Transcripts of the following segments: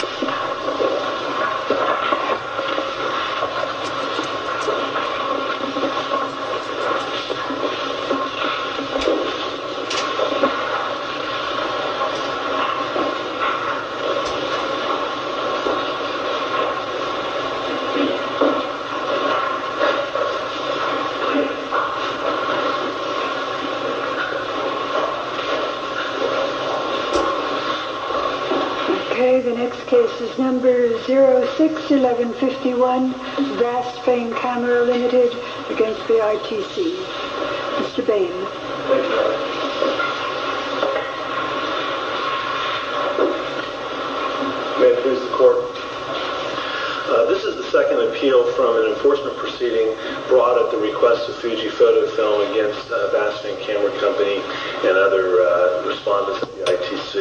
OK, the next task. OK, this is the second appeal from an enforcement proceeding brought at the request of Fuji Photo Film against Basfin Camera Company and other respondents to the ITC.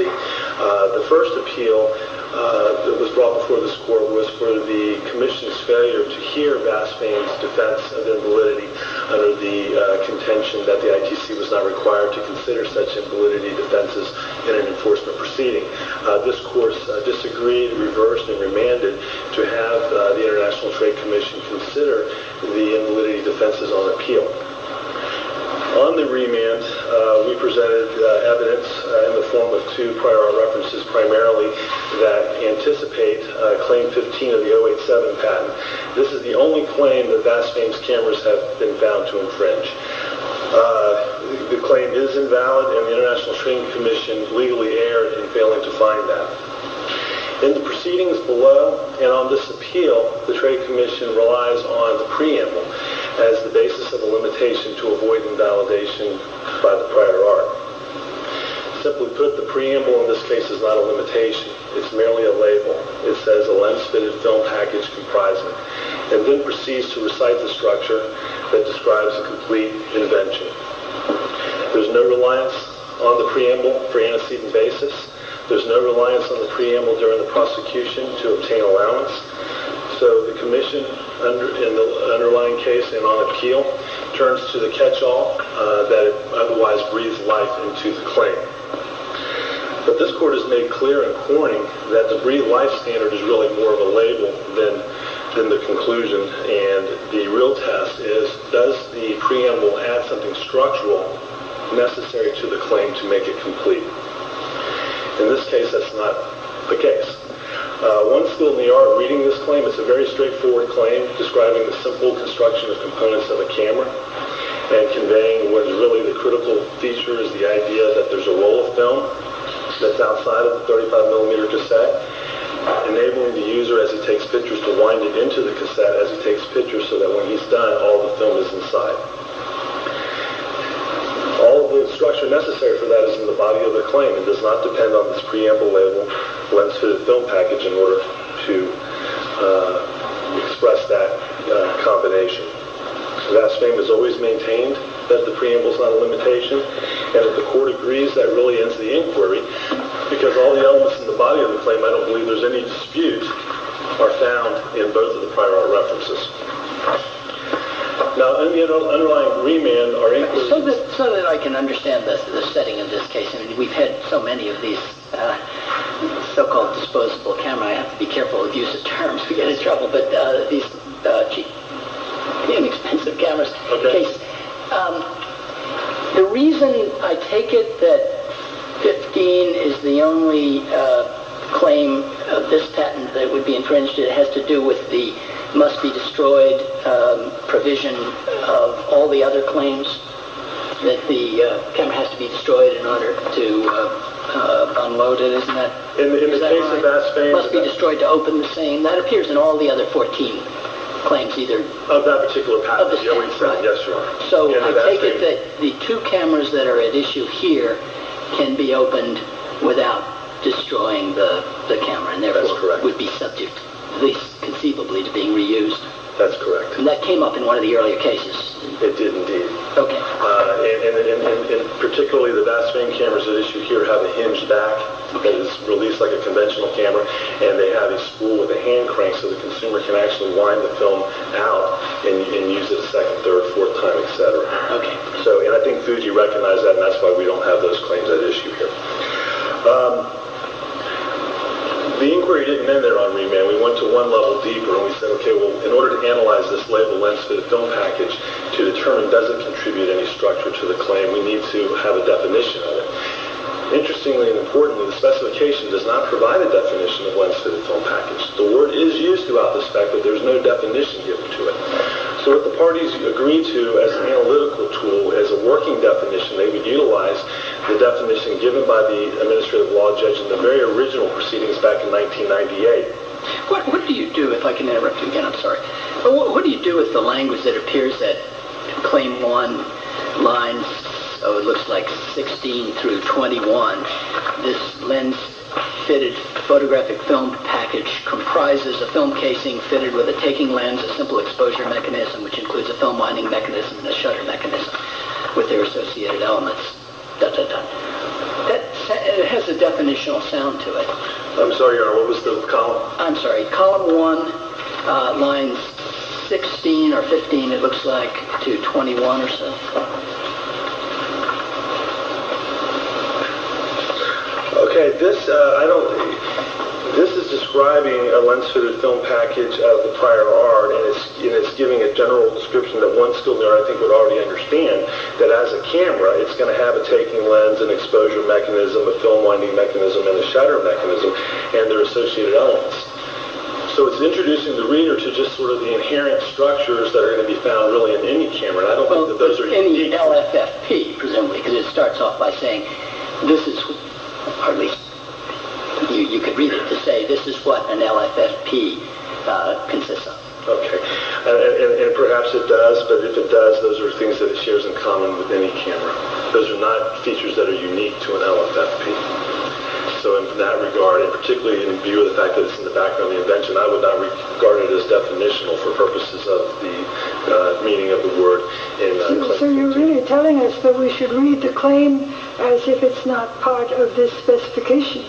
The first appeal that was brought before this court was for the Commission's failure to hear Basfin's defense of invalidity under the contention that the ITC was not required to consider such invalidity defenses in an enforcement proceeding. This court disagreed, reversed, and remanded to have the International Trade Commission consider the invalidity defenses on appeal. On the remand, we presented evidence in the form of two prior references primarily that anticipate Claim 15 of the 087 patent. This is the only claim that Basfin's cameras have been found to infringe. The claim is invalid and the International Trade Commission legally erred in failing to find that. In the proceedings below and on this appeal, the Trade Commission relies on the preamble as the basis of a limitation to avoid invalidation by the prior art. Simply put, the preamble in this case is not a limitation. It's merely a label. It says a lens-fitted film package comprising and then proceeds to recite the structure that describes a complete invention. There's no reliance on the preamble for antecedent basis. There's no reliance on the preamble during the prosecution to obtain allowance. So the Commission, in the underlying case and on appeal, turns to the catch-all that otherwise breathes life into the claim. But this court has made clear in claiming that the breathed-life standard is really more of a label than the conclusion, and the real test is, does the preamble add something structural necessary to the claim to make it complete? In this case, that's not the case. One skill in the art of reading this claim, it's a very straightforward claim describing the simple construction of components of a camera and conveying what is really the critical feature, is the idea that there's a roll of film that's outside of the 35mm cassette, enabling the user, as he takes pictures, to wind it into the cassette as he takes pictures so that when he's done, all the film is inside. All the structure necessary for that is in the body of the claim. It does not depend on this preamble label, lens-fitted film package, in order to express that combination. Vast fame is always maintained that the preamble is not a limitation, and if the court agrees, that really ends the inquiry, because all the elements in the body of the claim, I don't believe there's any dispute, are found in both of the prior art references. Now, in the underlying remand, are inquiries... So that I can understand the setting of this case, we've had so many of these so-called disposable cameras, I have to be careful with the use of terms, we get in trouble, but these are expensive cameras. The reason I take it that 15 is the only claim of this patent that would be infringed, it is that the camera has to be destroyed in order to unload it, isn't that right? It must be destroyed to open the same, that appears in all the other 14 claims either... Of that particular patent, yes, sure. So I take it that the two cameras that are at issue here can be opened without destroying the camera, and therefore would be subject, at least conceivably, to being reused? That's correct. And that came up in one of the earlier cases? It did indeed. Okay. And particularly the VASFANE cameras at issue here have a hinged back that is released like a conventional camera, and they have a spool with a hand crank so the consumer can actually wind the film out and use it a second, third, fourth time, etc. Okay. And I think Fuji recognized that, and that's why we don't have those claims at issue here. The inquiry didn't end there on remand, we went to one level deeper and we said, okay, well, in order to analyze this label, lens-fitted film package, to determine does it contribute any structure to the claim, we need to have a definition of it. Interestingly and importantly, the specification does not provide a definition of lens-fitted film package. The word is used throughout this fact that there's no definition given to it. So if the parties agreed to, as an analytical tool, as a working definition, they would utilize the definition given by the administrative law judge in the very original proceedings back in 1998. What do you do, if I can interrupt you again, I'm sorry, what do you do with the language that appears that claim one lines, oh, it looks like 16 through 21, this lens-fitted photographic film package comprises a film casing fitted with a taking lens, a simple exposure mechanism, which includes a film-winding mechanism and a shutter mechanism with their associated elements, da-da-da. That has a definitional sound to it. I'm sorry, Your Honor, what was the column? I'm sorry, column one, line 16 or 15, it looks like, to 21 or so. Okay, this is describing a lens-fitted film package of the prior art, and it's giving a general description that one skilled neuroethic would already understand, that as a camera, it's going to have a taking lens, an exposure mechanism, a film-winding mechanism, and a shutter mechanism, and their associated elements. So it's introducing the reader to just sort of the inherent structures that are going to be found really in any camera, and I don't think that those are unique. Any LFFP, presumably, because it starts off by saying this is, or at least you could read it to say this is what an LFFP consists of. Okay, and perhaps it does, but if it does, those are things that it shares in common with any camera. Those are not features that are unique to an LFFP. So in that regard, and particularly in view of the fact that it's in the background of the invention, I would not regard it as definitional for purposes of the meaning of the word. So you're really telling us that we should read the claim as if it's not part of this specification,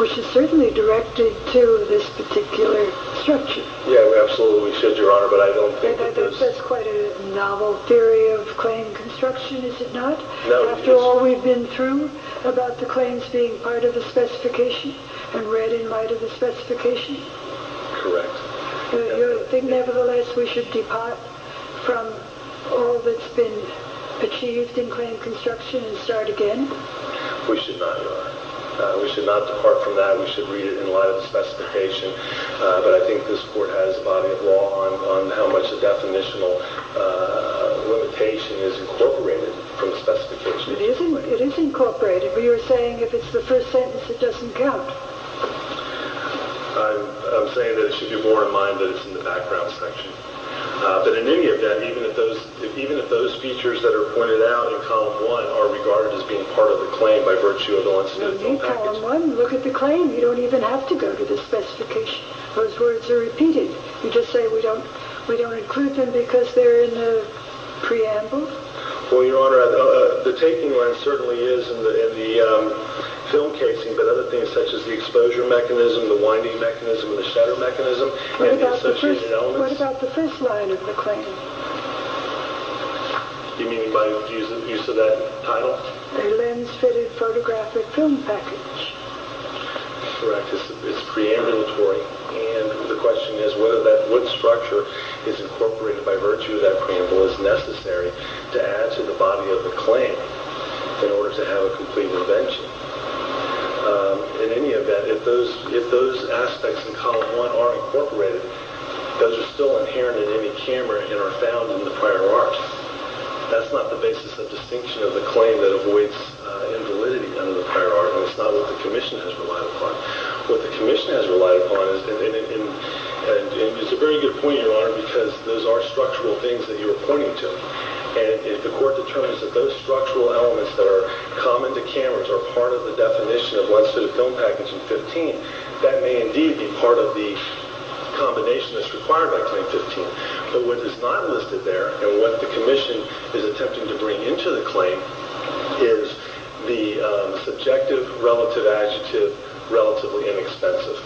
which is certainly directed to this particular structure. Yeah, we absolutely should, Your Honor, but I don't think that there's... That's quite a novel theory of claim construction, is it not? After all we've been through about the claims being part of the specification and read in light of the specification? Correct. You think nevertheless we should depart from all that's been achieved in claim construction and start again? We should not, Your Honor. We should not depart from that. We should read it in light of the specification, but I think this Court has a body of law on how much the definitional limitation is incorporated from the specification. It is incorporated, but you're saying if it's the first sentence it doesn't count. I'm saying that it should be borne in mind that it's in the background section. But in any event, even if those features that are pointed out in Column 1 are regarded as being part of the claim by virtue of the once-in-a-lifetime package... No need, Column 1. Look at the claim. You don't even have to go to the specification. Those words are repeated. You just say we don't include them because they're in the preamble? Well, Your Honor, the taking line certainly is in the film casing, but other things such as the exposure mechanism, the winding mechanism, the shutter mechanism... What about the first line of the claim? You mean by use of that title? A lens-fitted photographic film package. Correct. It's preambulatory. The question is whether that wood structure is incorporated by virtue of that preamble is necessary to add to the body of the claim in order to have a complete invention. In any event, if those aspects in Column 1 are incorporated, those are still inherent in any camera and are found in the prior art. That's not the basis of distinction of the claim that avoids invalidity under the prior art, and it's not what the Commission has relied upon. What the Commission has relied upon, and it's a very good point, Your Honor, because those are structural things that you are pointing to, and if the Court determines that those structural elements that are common to cameras are part of the definition of lens-fitted film packaging 15, that may indeed be part of the combination that's required by Claim 15. But what is not listed there, and what the Commission is attempting to bring into the relatively inexpensive,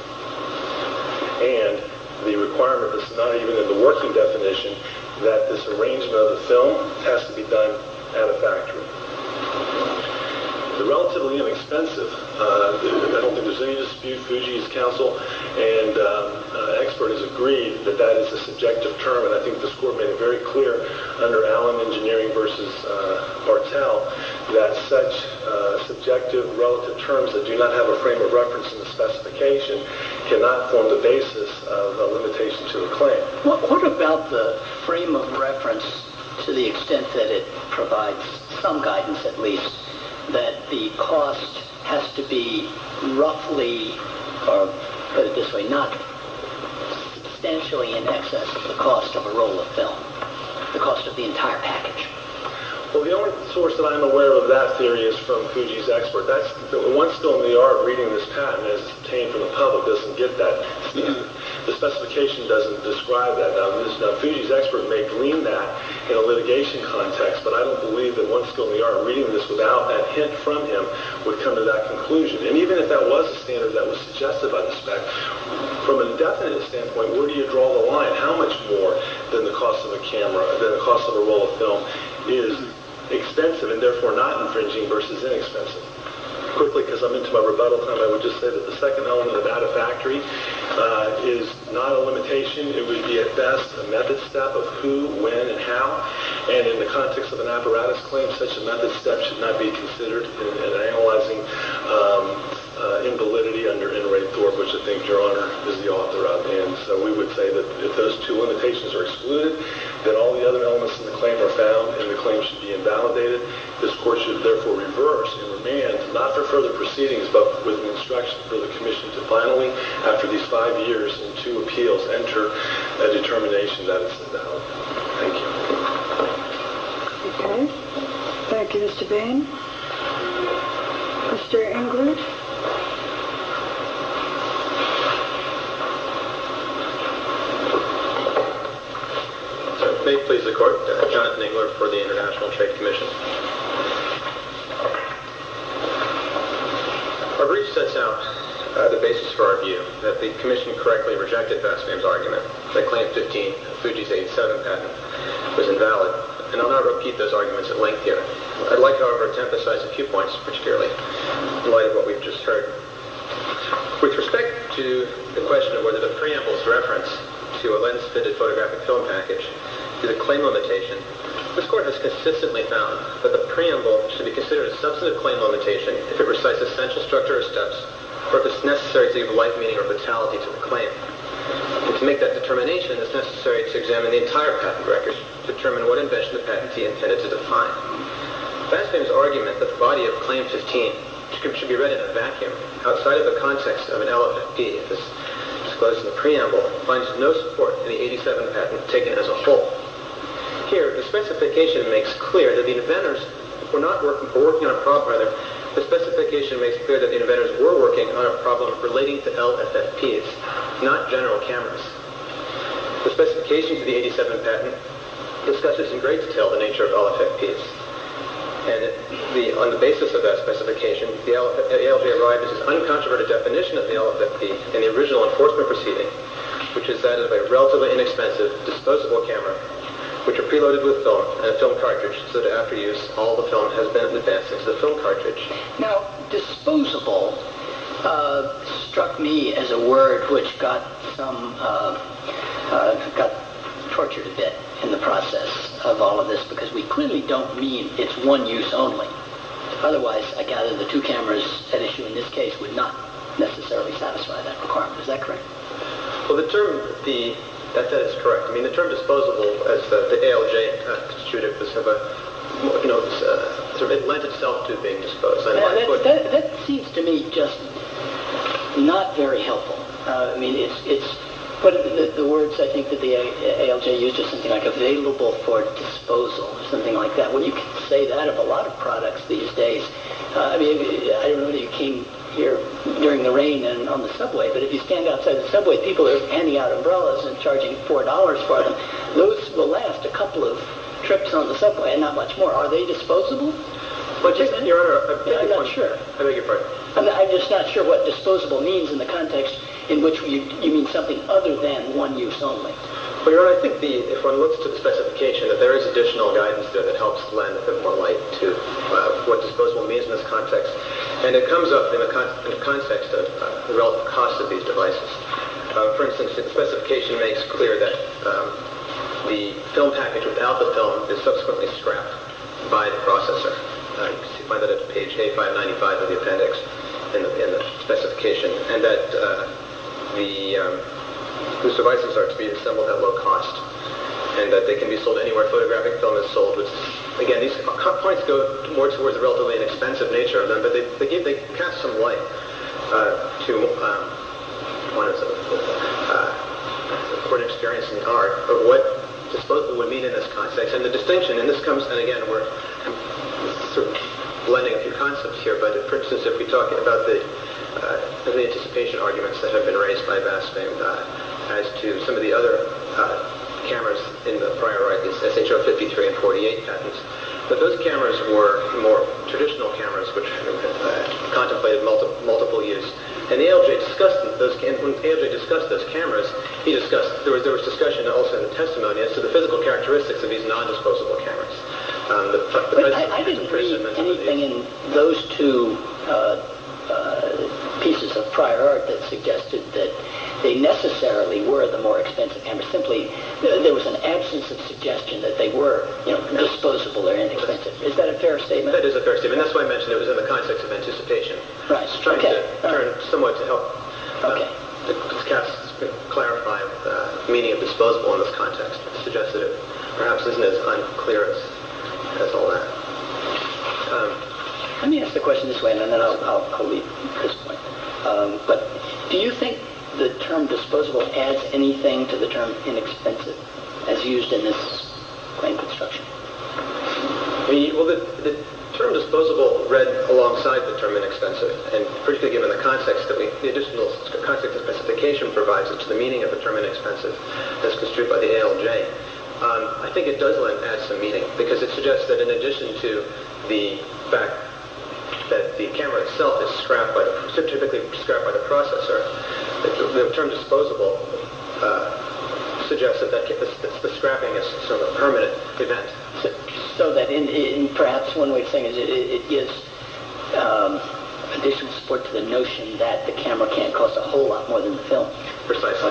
and the requirement that's not even in the working definition that this arrangement of the film has to be done at a factory. The relatively inexpensive, I don't think there's any dispute. Fujii's counsel and expert has agreed that that is a subjective term, and I think the Court made it very clear under Allen Engineering v. Bartel that such subjective, relative terms that do not have a frame of reference in the specification cannot form the basis of a limitation to the claim. What about the frame of reference to the extent that it provides some guidance, at least, that the cost has to be roughly, or put it this way, not substantially in excess of the cost of a roll of film, the cost of the entire package? Well, the only source that I'm aware of that theory is from Fujii's expert. The one skill in the art of reading this patent is to obtain from the public this and get that. The specification doesn't describe that. Now, Fujii's expert may glean that in a litigation context, but I don't believe that one skill in the art of reading this without that hint from him would come to that conclusion. And even if that was a standard that was suggested by the spec, from a definite standpoint, where do you draw the line? How much more than the cost of a roll of film is expensive, and therefore not infringing, versus inexpensive? Quickly, because I'm into my rebuttal time, I would just say that the second element of out-of-factory is not a limitation. It would be, at best, a method step of who, when, and how. And in the context of an apparatus claim, such a method step should not be considered in analyzing invalidity under N. Ray Thorpe, which I think, Your Honor, is the author of. And so we would say that if those two limitations are excluded, then all the other elements of the claim are found, and the claim should be invalidated. This Court should, therefore, reverse and remand, not for further proceedings, but with an instruction for the Commission to finally, after these five years and two appeals, enter a determination that it's invalid. Thank you. Okay. Thank you, Mr. Bain. Mr. Englert? May it please the Court, Jonathan Englert for the International Trade Commission. Our brief sets out the basis for our view that the Commission correctly rejected Vastam's argument that Claim 15, Fuji's 8-7 patent, was invalid, and I'll not repeat those arguments at length here. I'd like, however, to emphasize a few points, particularly in light of what we've just heard. With respect to the question of whether the preamble's reference to a lens-fitted photographic film package is a claim limitation, this Court has consistently found that the preamble should be considered a substantive claim limitation if it recites essential structure or steps, or if it's necessary to give life, meaning, or vitality to the claim. And to make that determination, it's necessary to examine the entire patent record to determine what invention the patentee intended to define. Vastam's argument that the body of Claim 15 should be read in a vacuum, outside of the context of an LFFP, if it's disclosed in the preamble, finds no support in the 8-7 patent taken as a whole. Here, the specification makes clear that the inventors were working on a problem relating to LFFPs, not general cameras. The specifications of the 8-7 patent discuss in great detail the nature of LFFPs, and on the basis of that specification, the ALJ arrives at this uncontroverted definition of the LFFP in the original enforcement proceeding, which is that of a relatively inexpensive disposable camera, which are preloaded with film, and a film cartridge, so that after use, all the film has been advanced into the film cartridge. Now, disposable struck me as a word which got tortured a bit in the process of all of this, because we clearly don't mean it's one use only. Otherwise, I gather the two cameras at issue in this case would not necessarily satisfy that requirement. Is that correct? Well, that is correct. The term disposable, as the ALJ constituted, it lent itself to being disposed. That seems to me just not very helpful. The words I think that the ALJ used are something like available for disposal, or something like that. You can say that of a lot of products these days. I remember you came here during the rain on the subway, but if you stand outside the subway, and the people are handing out umbrellas and charging $4 for them, those will last a couple of trips on the subway and not much more. Are they disposable? Your Honor, I beg your pardon. I'm just not sure what disposable means in the context in which you mean something other than one use only. Your Honor, I think if one looks to the specification, that there is additional guidance there that helps lend a bit more light to what disposable means in this context. It comes up in the context of the relative cost of these devices. For instance, the specification makes clear that the film package without the film is subsequently scrapped by the processor. You find that at page A595 of the appendix in the specification, and that these devices are to be assembled at low cost, and that they can be sold anywhere photographic film is sold. Again, these points go more towards the relatively inexpensive nature of them, but they cast some light to one or several people's experience in the art of what disposable would mean in this context. The distinction, and again, we're blending a few concepts here, but for instance, if we talk about the anticipation arguments that have been raised by Vashtang as to some of the other cameras in the prior writings, SHR-53 and 48 patents, that those cameras were more traditional cameras, which contemplated multiple use. When ALJ discussed those cameras, there was discussion also in the testimony as to the physical characteristics of these non-disposable cameras. I didn't read anything in those two pieces of prior art that suggested that they necessarily were the more expensive cameras. Simply, there was an absence of suggestion that they were disposable or inexpensive. Is that a fair statement? That is a fair statement. That's why I mentioned it was in the context of anticipation. It's trying to turn some way to help to clarify the meaning of disposable in this context. It suggests that it perhaps isn't as unclear as all that. Let me ask the question this way, and then I'll leave at this point. Do you think the term disposable adds anything to the term inexpensive as used in this claim construction? The term disposable read alongside the term inexpensive, and particularly given the context that the specification provides as to the meaning of the term inexpensive as construed by the ALJ. I think it does add some meaning because it suggests that in addition to the fact that the camera itself is typically scrapped by the processor, the term disposable suggests that the scrapping is a permanent event. Perhaps one way of saying it is in addition to the notion that the camera can't cost a whole lot more than the film. Precisely.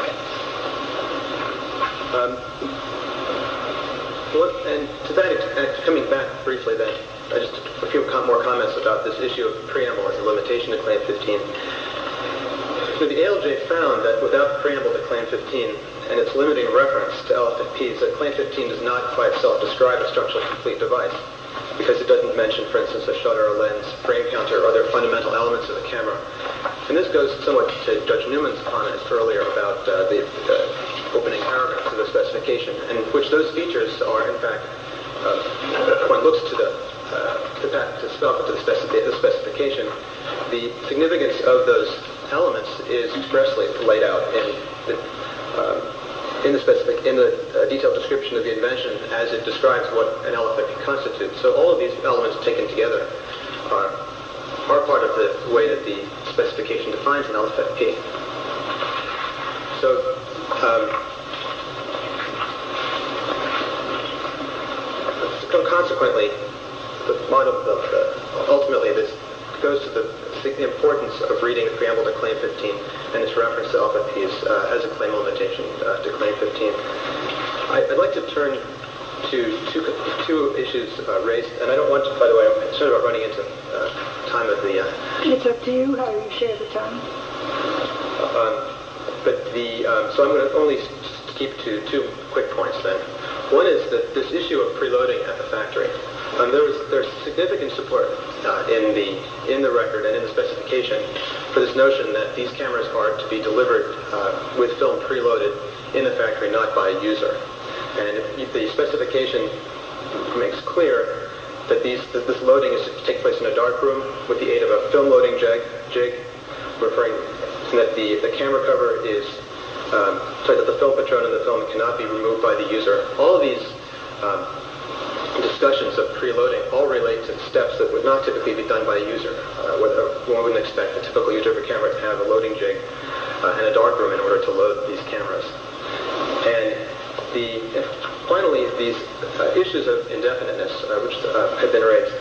To that, and coming back briefly then, a few more comments about this issue of the preamble and the limitation to Claim 15. The ALJ found that without the preamble to Claim 15, and its limiting reference to LFPs, that Claim 15 does not by itself describe a structurally complete device because it doesn't mention, for instance, a shutter, a lens, a frame counter, or other fundamental elements of the camera. This goes somewhat to Judge Newman's comments earlier about the opening paragraph of the specification, in which those features are in fact, when one looks to the specification, the significance of those elements is expressly laid out in the detailed description of the invention as it describes what an element constitutes. So all of these elements taken together are part of the way that the specification defines an LFP. Consequently, ultimately, this goes to the importance of reading the preamble to Claim 15 and its reference to LFPs as a claim limitation to Claim 15. I'd like to turn to two issues raised, and I don't want to, by the way, I'm concerned about running into time at the end. It's up to you how you share the time. So I'm going to only skip to two quick points then. One is this issue of preloading at the factory. There's significant support in the record and in the specification for this notion that these cameras are to be delivered with film preloaded in the factory, not by a user. And the specification makes clear that this loading is to take place in a dark room with the aid of a film-loading jig, referring that the film cannot be removed by the user. All of these discussions of preloading all relate to steps that would not typically be done by a user. One wouldn't expect a typical user of a camera to have a loading jig in a dark room in order to load these cameras. And finally, these issues of indefiniteness, which have been raised,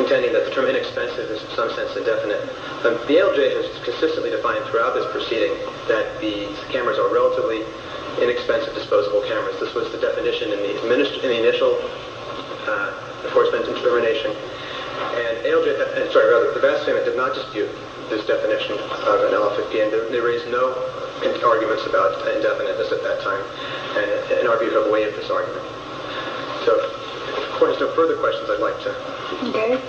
intending that the term inexpensive is in some sense indefinite. The ALJ has consistently defined throughout this proceeding that these cameras are relatively inexpensive disposable cameras. This was the definition in the initial enforcement determination. And the vast same did not dispute this definition of an LL50. And there is no arguments about indefiniteness at that time, in our view, to have waived this argument. If there's no further questions, I'd like to... Okay.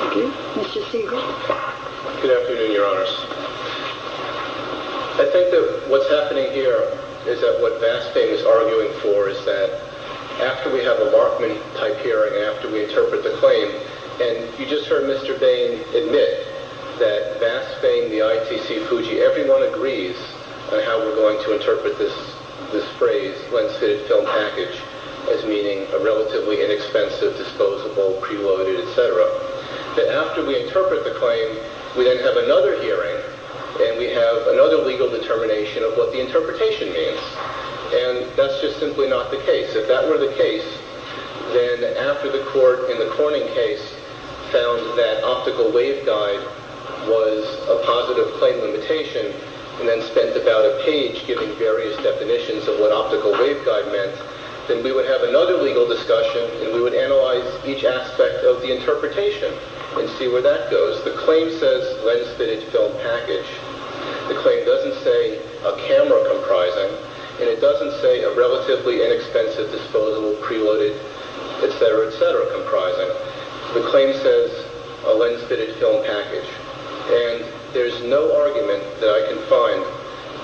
Thank you. Mr. Siegel? Good afternoon, Your Honors. I think that what's happening here is that what Vastain is arguing for is that after we have a Markman-type hearing, after we interpret the claim, and you just heard Mr. Bain admit that Vastain, the ITC, Fuji, everyone agrees on how we're going to interpret this phrase, lens-fitted film package, as meaning a relatively inexpensive, disposable, preloaded, et cetera, that after we interpret the claim, we then have another hearing, and we have another legal determination of what the interpretation means. And that's just simply not the case. If that were the case, then after the court, in the Corning case, found that optical waveguide was a positive claim limitation, and then spent about a page giving various definitions of what optical waveguide meant, then we would have another legal discussion, and we would analyze each aspect of the interpretation and see where that goes. The claim says lens-fitted film package. The claim doesn't say a camera comprising, and it doesn't say a relatively inexpensive, disposable, preloaded, et cetera, comprising. The claim says a lens-fitted film package. And there's no argument that I can find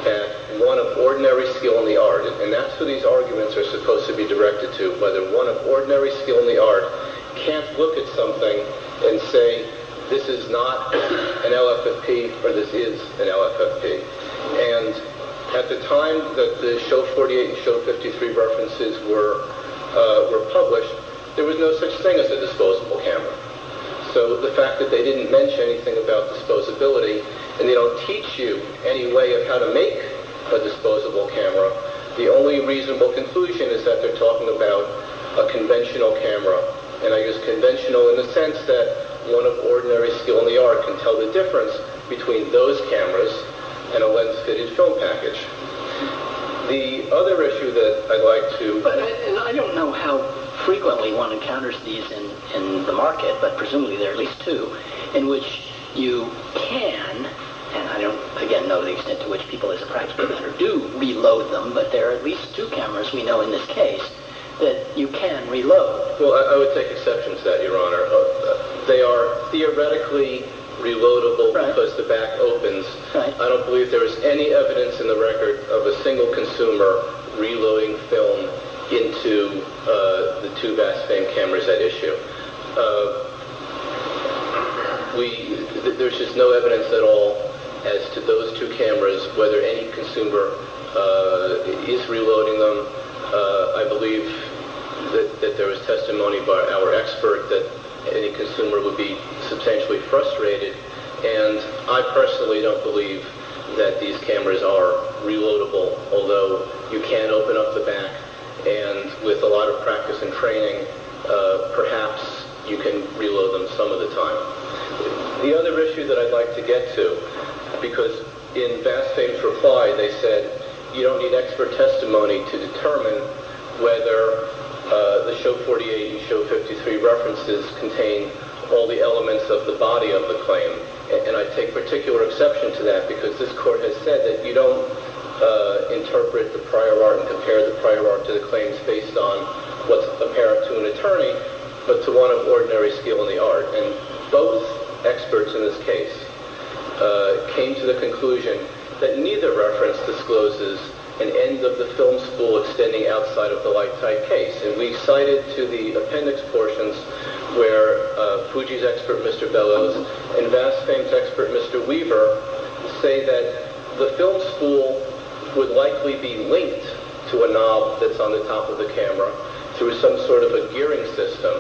at one of ordinary skill in the art, and that's who these arguments are supposed to be directed to, whether one of ordinary skill in the art can't look at something and say, this is not an LFFP, or this is an LFFP. And at the time that the Show 48 and Show 53 references were published, there was no such thing as a disposable camera. So the fact that they didn't mention anything about disposability, and they don't teach you any way of how to make a disposable camera, the only reasonable conclusion is that they're talking about a conventional camera. And I use conventional in the sense that one of ordinary skill in the art can tell the difference between those cameras and a lens-fitted film package. The other issue that I'd like to... But I don't know how frequently one encounters these in the market, but presumably there are at least two in which you can, and I don't, again, know the extent to which people as a practical matter do reload them, but there are at least two cameras we know in this case that you can reload. Well, I would take exception to that, Your Honor. They are theoretically reloadable because the back opens. I don't believe there is any evidence in the record of a single consumer reloading film into the two BASFAM cameras at issue. There's just no evidence at all as to those two cameras, whether any consumer is reloading them. I believe that there was testimony by our expert that any consumer would be substantially frustrated, and I personally don't believe that these cameras are reloadable, although you can open up the back, and with a lot of practice and training, perhaps you can reload them some of the time. The other issue that I'd like to get to, because in BASFAM's reply they said, you don't need expert testimony to determine whether the Show 48 and Show 53 references contain all the elements of the body of the claim, and I take particular exception to that because this Court has said that you don't interpret the prior art and compare the prior art to the claims based on what's apparent to an attorney, but to one of ordinary skill in the art, and both experts in this case came to the conclusion that neither reference discloses an end of the film spool extending outside of the lifetime case, and we cited to the appendix portions where Fuji's expert, Mr. Bellows, and BASFAM's expert, Mr. Weaver, say that the film spool would likely be linked to a knob that's on the top of the camera through some sort of a gearing system,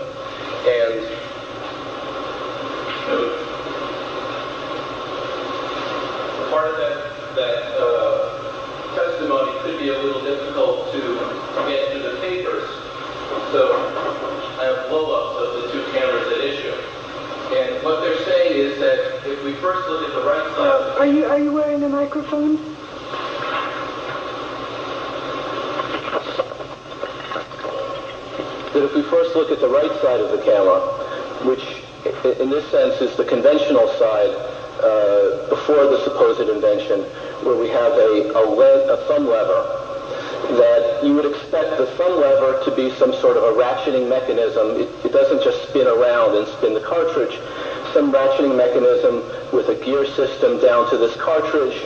and part of that testimony could be a little difficult to get to the papers, so I have blow-ups of the two cameras at issue, and what they're saying is that if we first look at the right side... Are you wearing the microphone? ...that if we first look at the right side of the camera, which in this sense is the conventional side before the supposed invention, where we have a thumb lever, that you would expect the thumb lever to be some sort of a ratcheting mechanism. It doesn't just spin around and spin the cartridge. Some ratcheting mechanism with a gear system down to this cartridge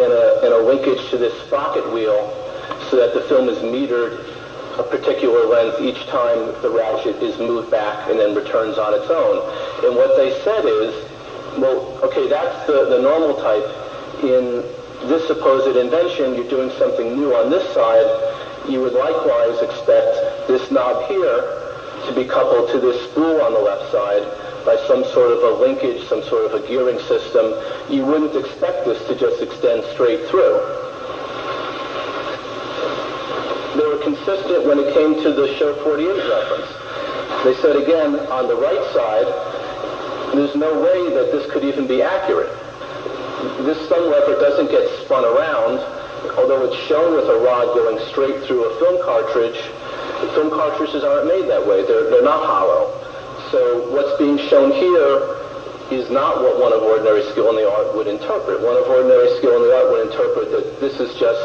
and a linkage to this pocket wheel so that the film is metered a particular length each time the ratchet is moved back and then returns on its own, and what they said is, well, okay, that's the normal type. In this supposed invention, you're doing something new on this side. You would likewise expect this knob here to be coupled to this spool on the left side by some sort of a linkage, some sort of a gearing system. You wouldn't expect this to just extend straight through. They were consistent when it came to the Show 48 reference. They said, again, on the right side, there's no way that this could even be accurate. This thumb lever doesn't get spun around, although it's shown with a rod going straight through a film cartridge. Film cartridges aren't made that way. They're not hollow. So what's being shown here is not what one of ordinary skill in the art would interpret. One of ordinary skill in the art would interpret that this is just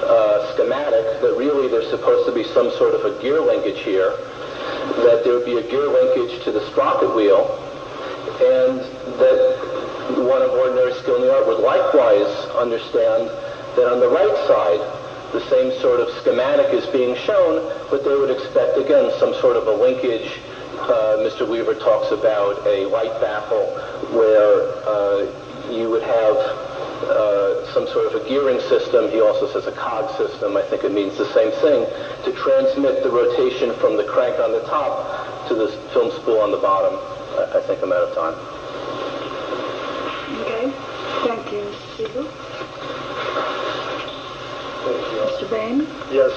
a schematic, that really there's supposed to be some sort of a gear linkage here, that there would be a gear linkage to this pocket wheel, and that one of ordinary skill in the art would likewise understand that on the right side, the same sort of schematic is being shown, but they would expect, again, some sort of a linkage. Mr. Weaver talks about a white baffle, where you would have some sort of a gearing system. He also says a cog system. I think it means the same thing, to transmit the rotation from the crank on the top to this film spool on the bottom. I think I'm out of time. Okay. Thank you, Mr. Siegel. Mr. Bain? Yes.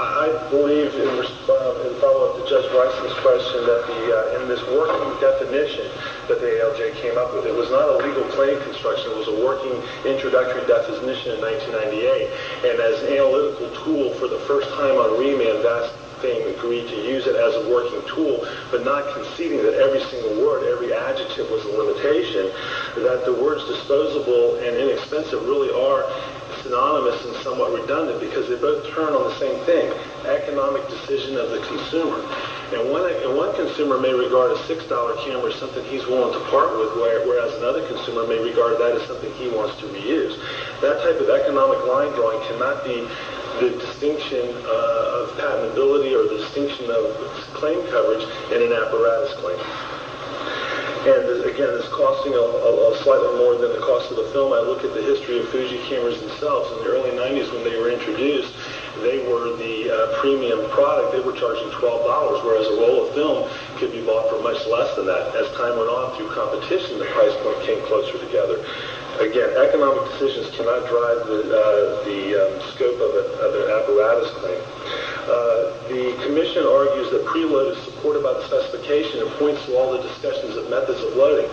I believe, in follow-up to Judge Bryson's question, that in this working definition that the ALJ came up with, it was not a legal claim construction. It was a working introductory definition in 1998, and as an analytical tool for the first time on remand, that thing agreed to use it as a working tool, but not conceding that every single word, every adjective was a limitation, that the words disposable and inexpensive really are synonymous and somewhat redundant, because they both turn on the same thing, economic decision of the consumer. One consumer may regard a $6 camera as something he's willing to part with, whereas another consumer may regard that as something he wants to reuse. That type of economic line drawing cannot be the distinction of patentability or the distinction of claim coverage in an apparatus claim. Again, this is costing slightly more than the cost of the film. I look at the history of Fuji cameras themselves. In the early 90s, when they were introduced, they were the premium product. They were charging $12, whereas a roll of film could be bought for much less than that. As time went on through competition, the price point came closer together. Again, economic decisions cannot drive the scope of an apparatus claim. The commission argues that preload is supported by the specification and points to all the discussions of methods of loading.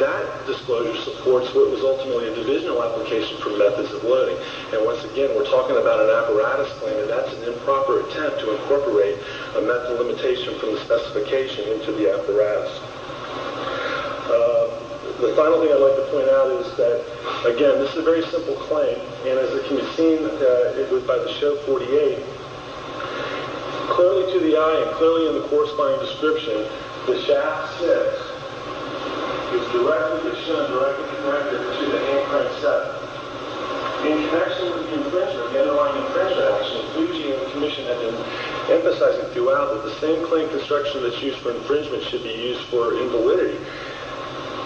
That disclosure supports what was ultimately a divisional application for methods of loading. Once again, we're talking about an apparatus claim, and that's an improper attempt to incorporate a method limitation from the specification into the apparatus. The final thing I'd like to point out is that, again, this is a very simple claim, and as it can be seen, it was by the show 48. Clearly to the eye and clearly in the corresponding description, the shaft 6 is directly connected to the hand crank 7. In connection with the infringement, the underlying infringement action, Fuji and the commission have been emphasizing throughout that the same claim construction that's used for infringement should be used for invalidity.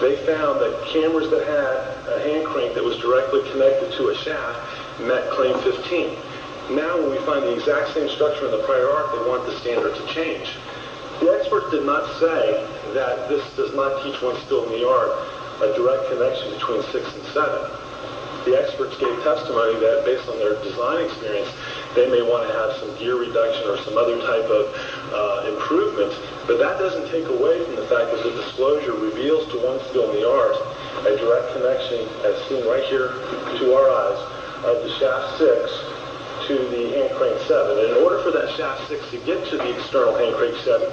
They found that cameras that had a hand crank that was directly connected to a shaft met claim 15. Now when we find the exact same structure in the prior arc, they want the standard to change. The experts did not say that this does not teach one skill in the art a direct connection between 6 and 7. The experts gave testimony that based on their design experience, they may want to have some gear reduction or some other type of improvement, but that doesn't take away from the fact that the disclosure reveals to one skill in the art a direct connection as seen right here to our eyes of the shaft 6 to the hand crank 7. In order for that shaft 6 to get to the external hand crank 7,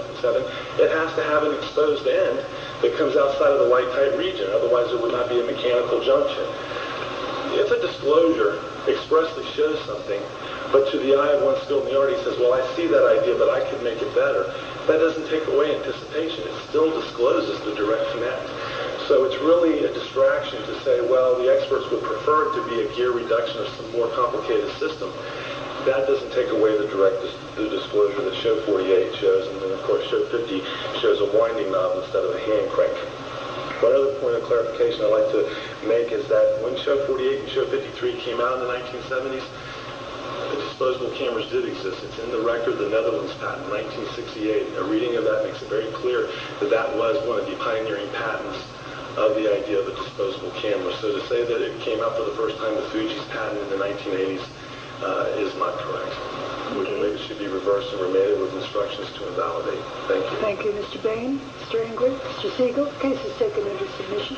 it has to have an exposed end that comes outside of the light tight region, otherwise it would not be a mechanical junction. If a disclosure expressly shows something, but to the eye of one skill in the art, he says, well, I see that idea, but I can make it better, that doesn't take away anticipation. It still discloses the direct connection. So it's really a distraction to say, well, the experts would prefer it to be a gear reduction or some more complicated system. That doesn't take away the disclosure that show 48 shows, and then of course show 50 shows a winding knob instead of a hand crank. One other point of clarification I'd like to make is that when show 48 and show 53 came out in the 1970s, the disposable cameras did exist. It's in the record of the Netherlands patent in 1968. A reading of that makes it very clear that that was one of the pioneering patents of the idea of a disposable camera. So to say that it came out for the first time with Fuji's patent in the 1980s is not correct. It should be reversed and remanded with instructions to invalidate. Thank you. Thank you, Mr. Bain, Mr. Ingrid, Mr. Siegel. Case is taken under submission.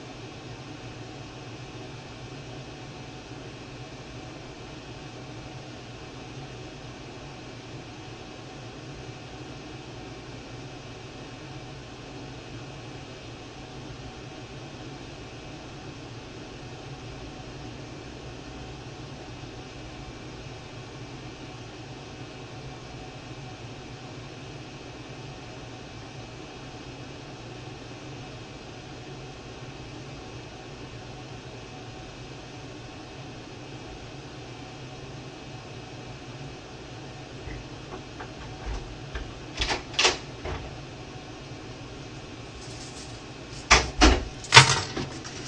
Case is taken under submission. Case is taken under submission. Case is taken under submission. Case is taken under submission. Case is taken under submission.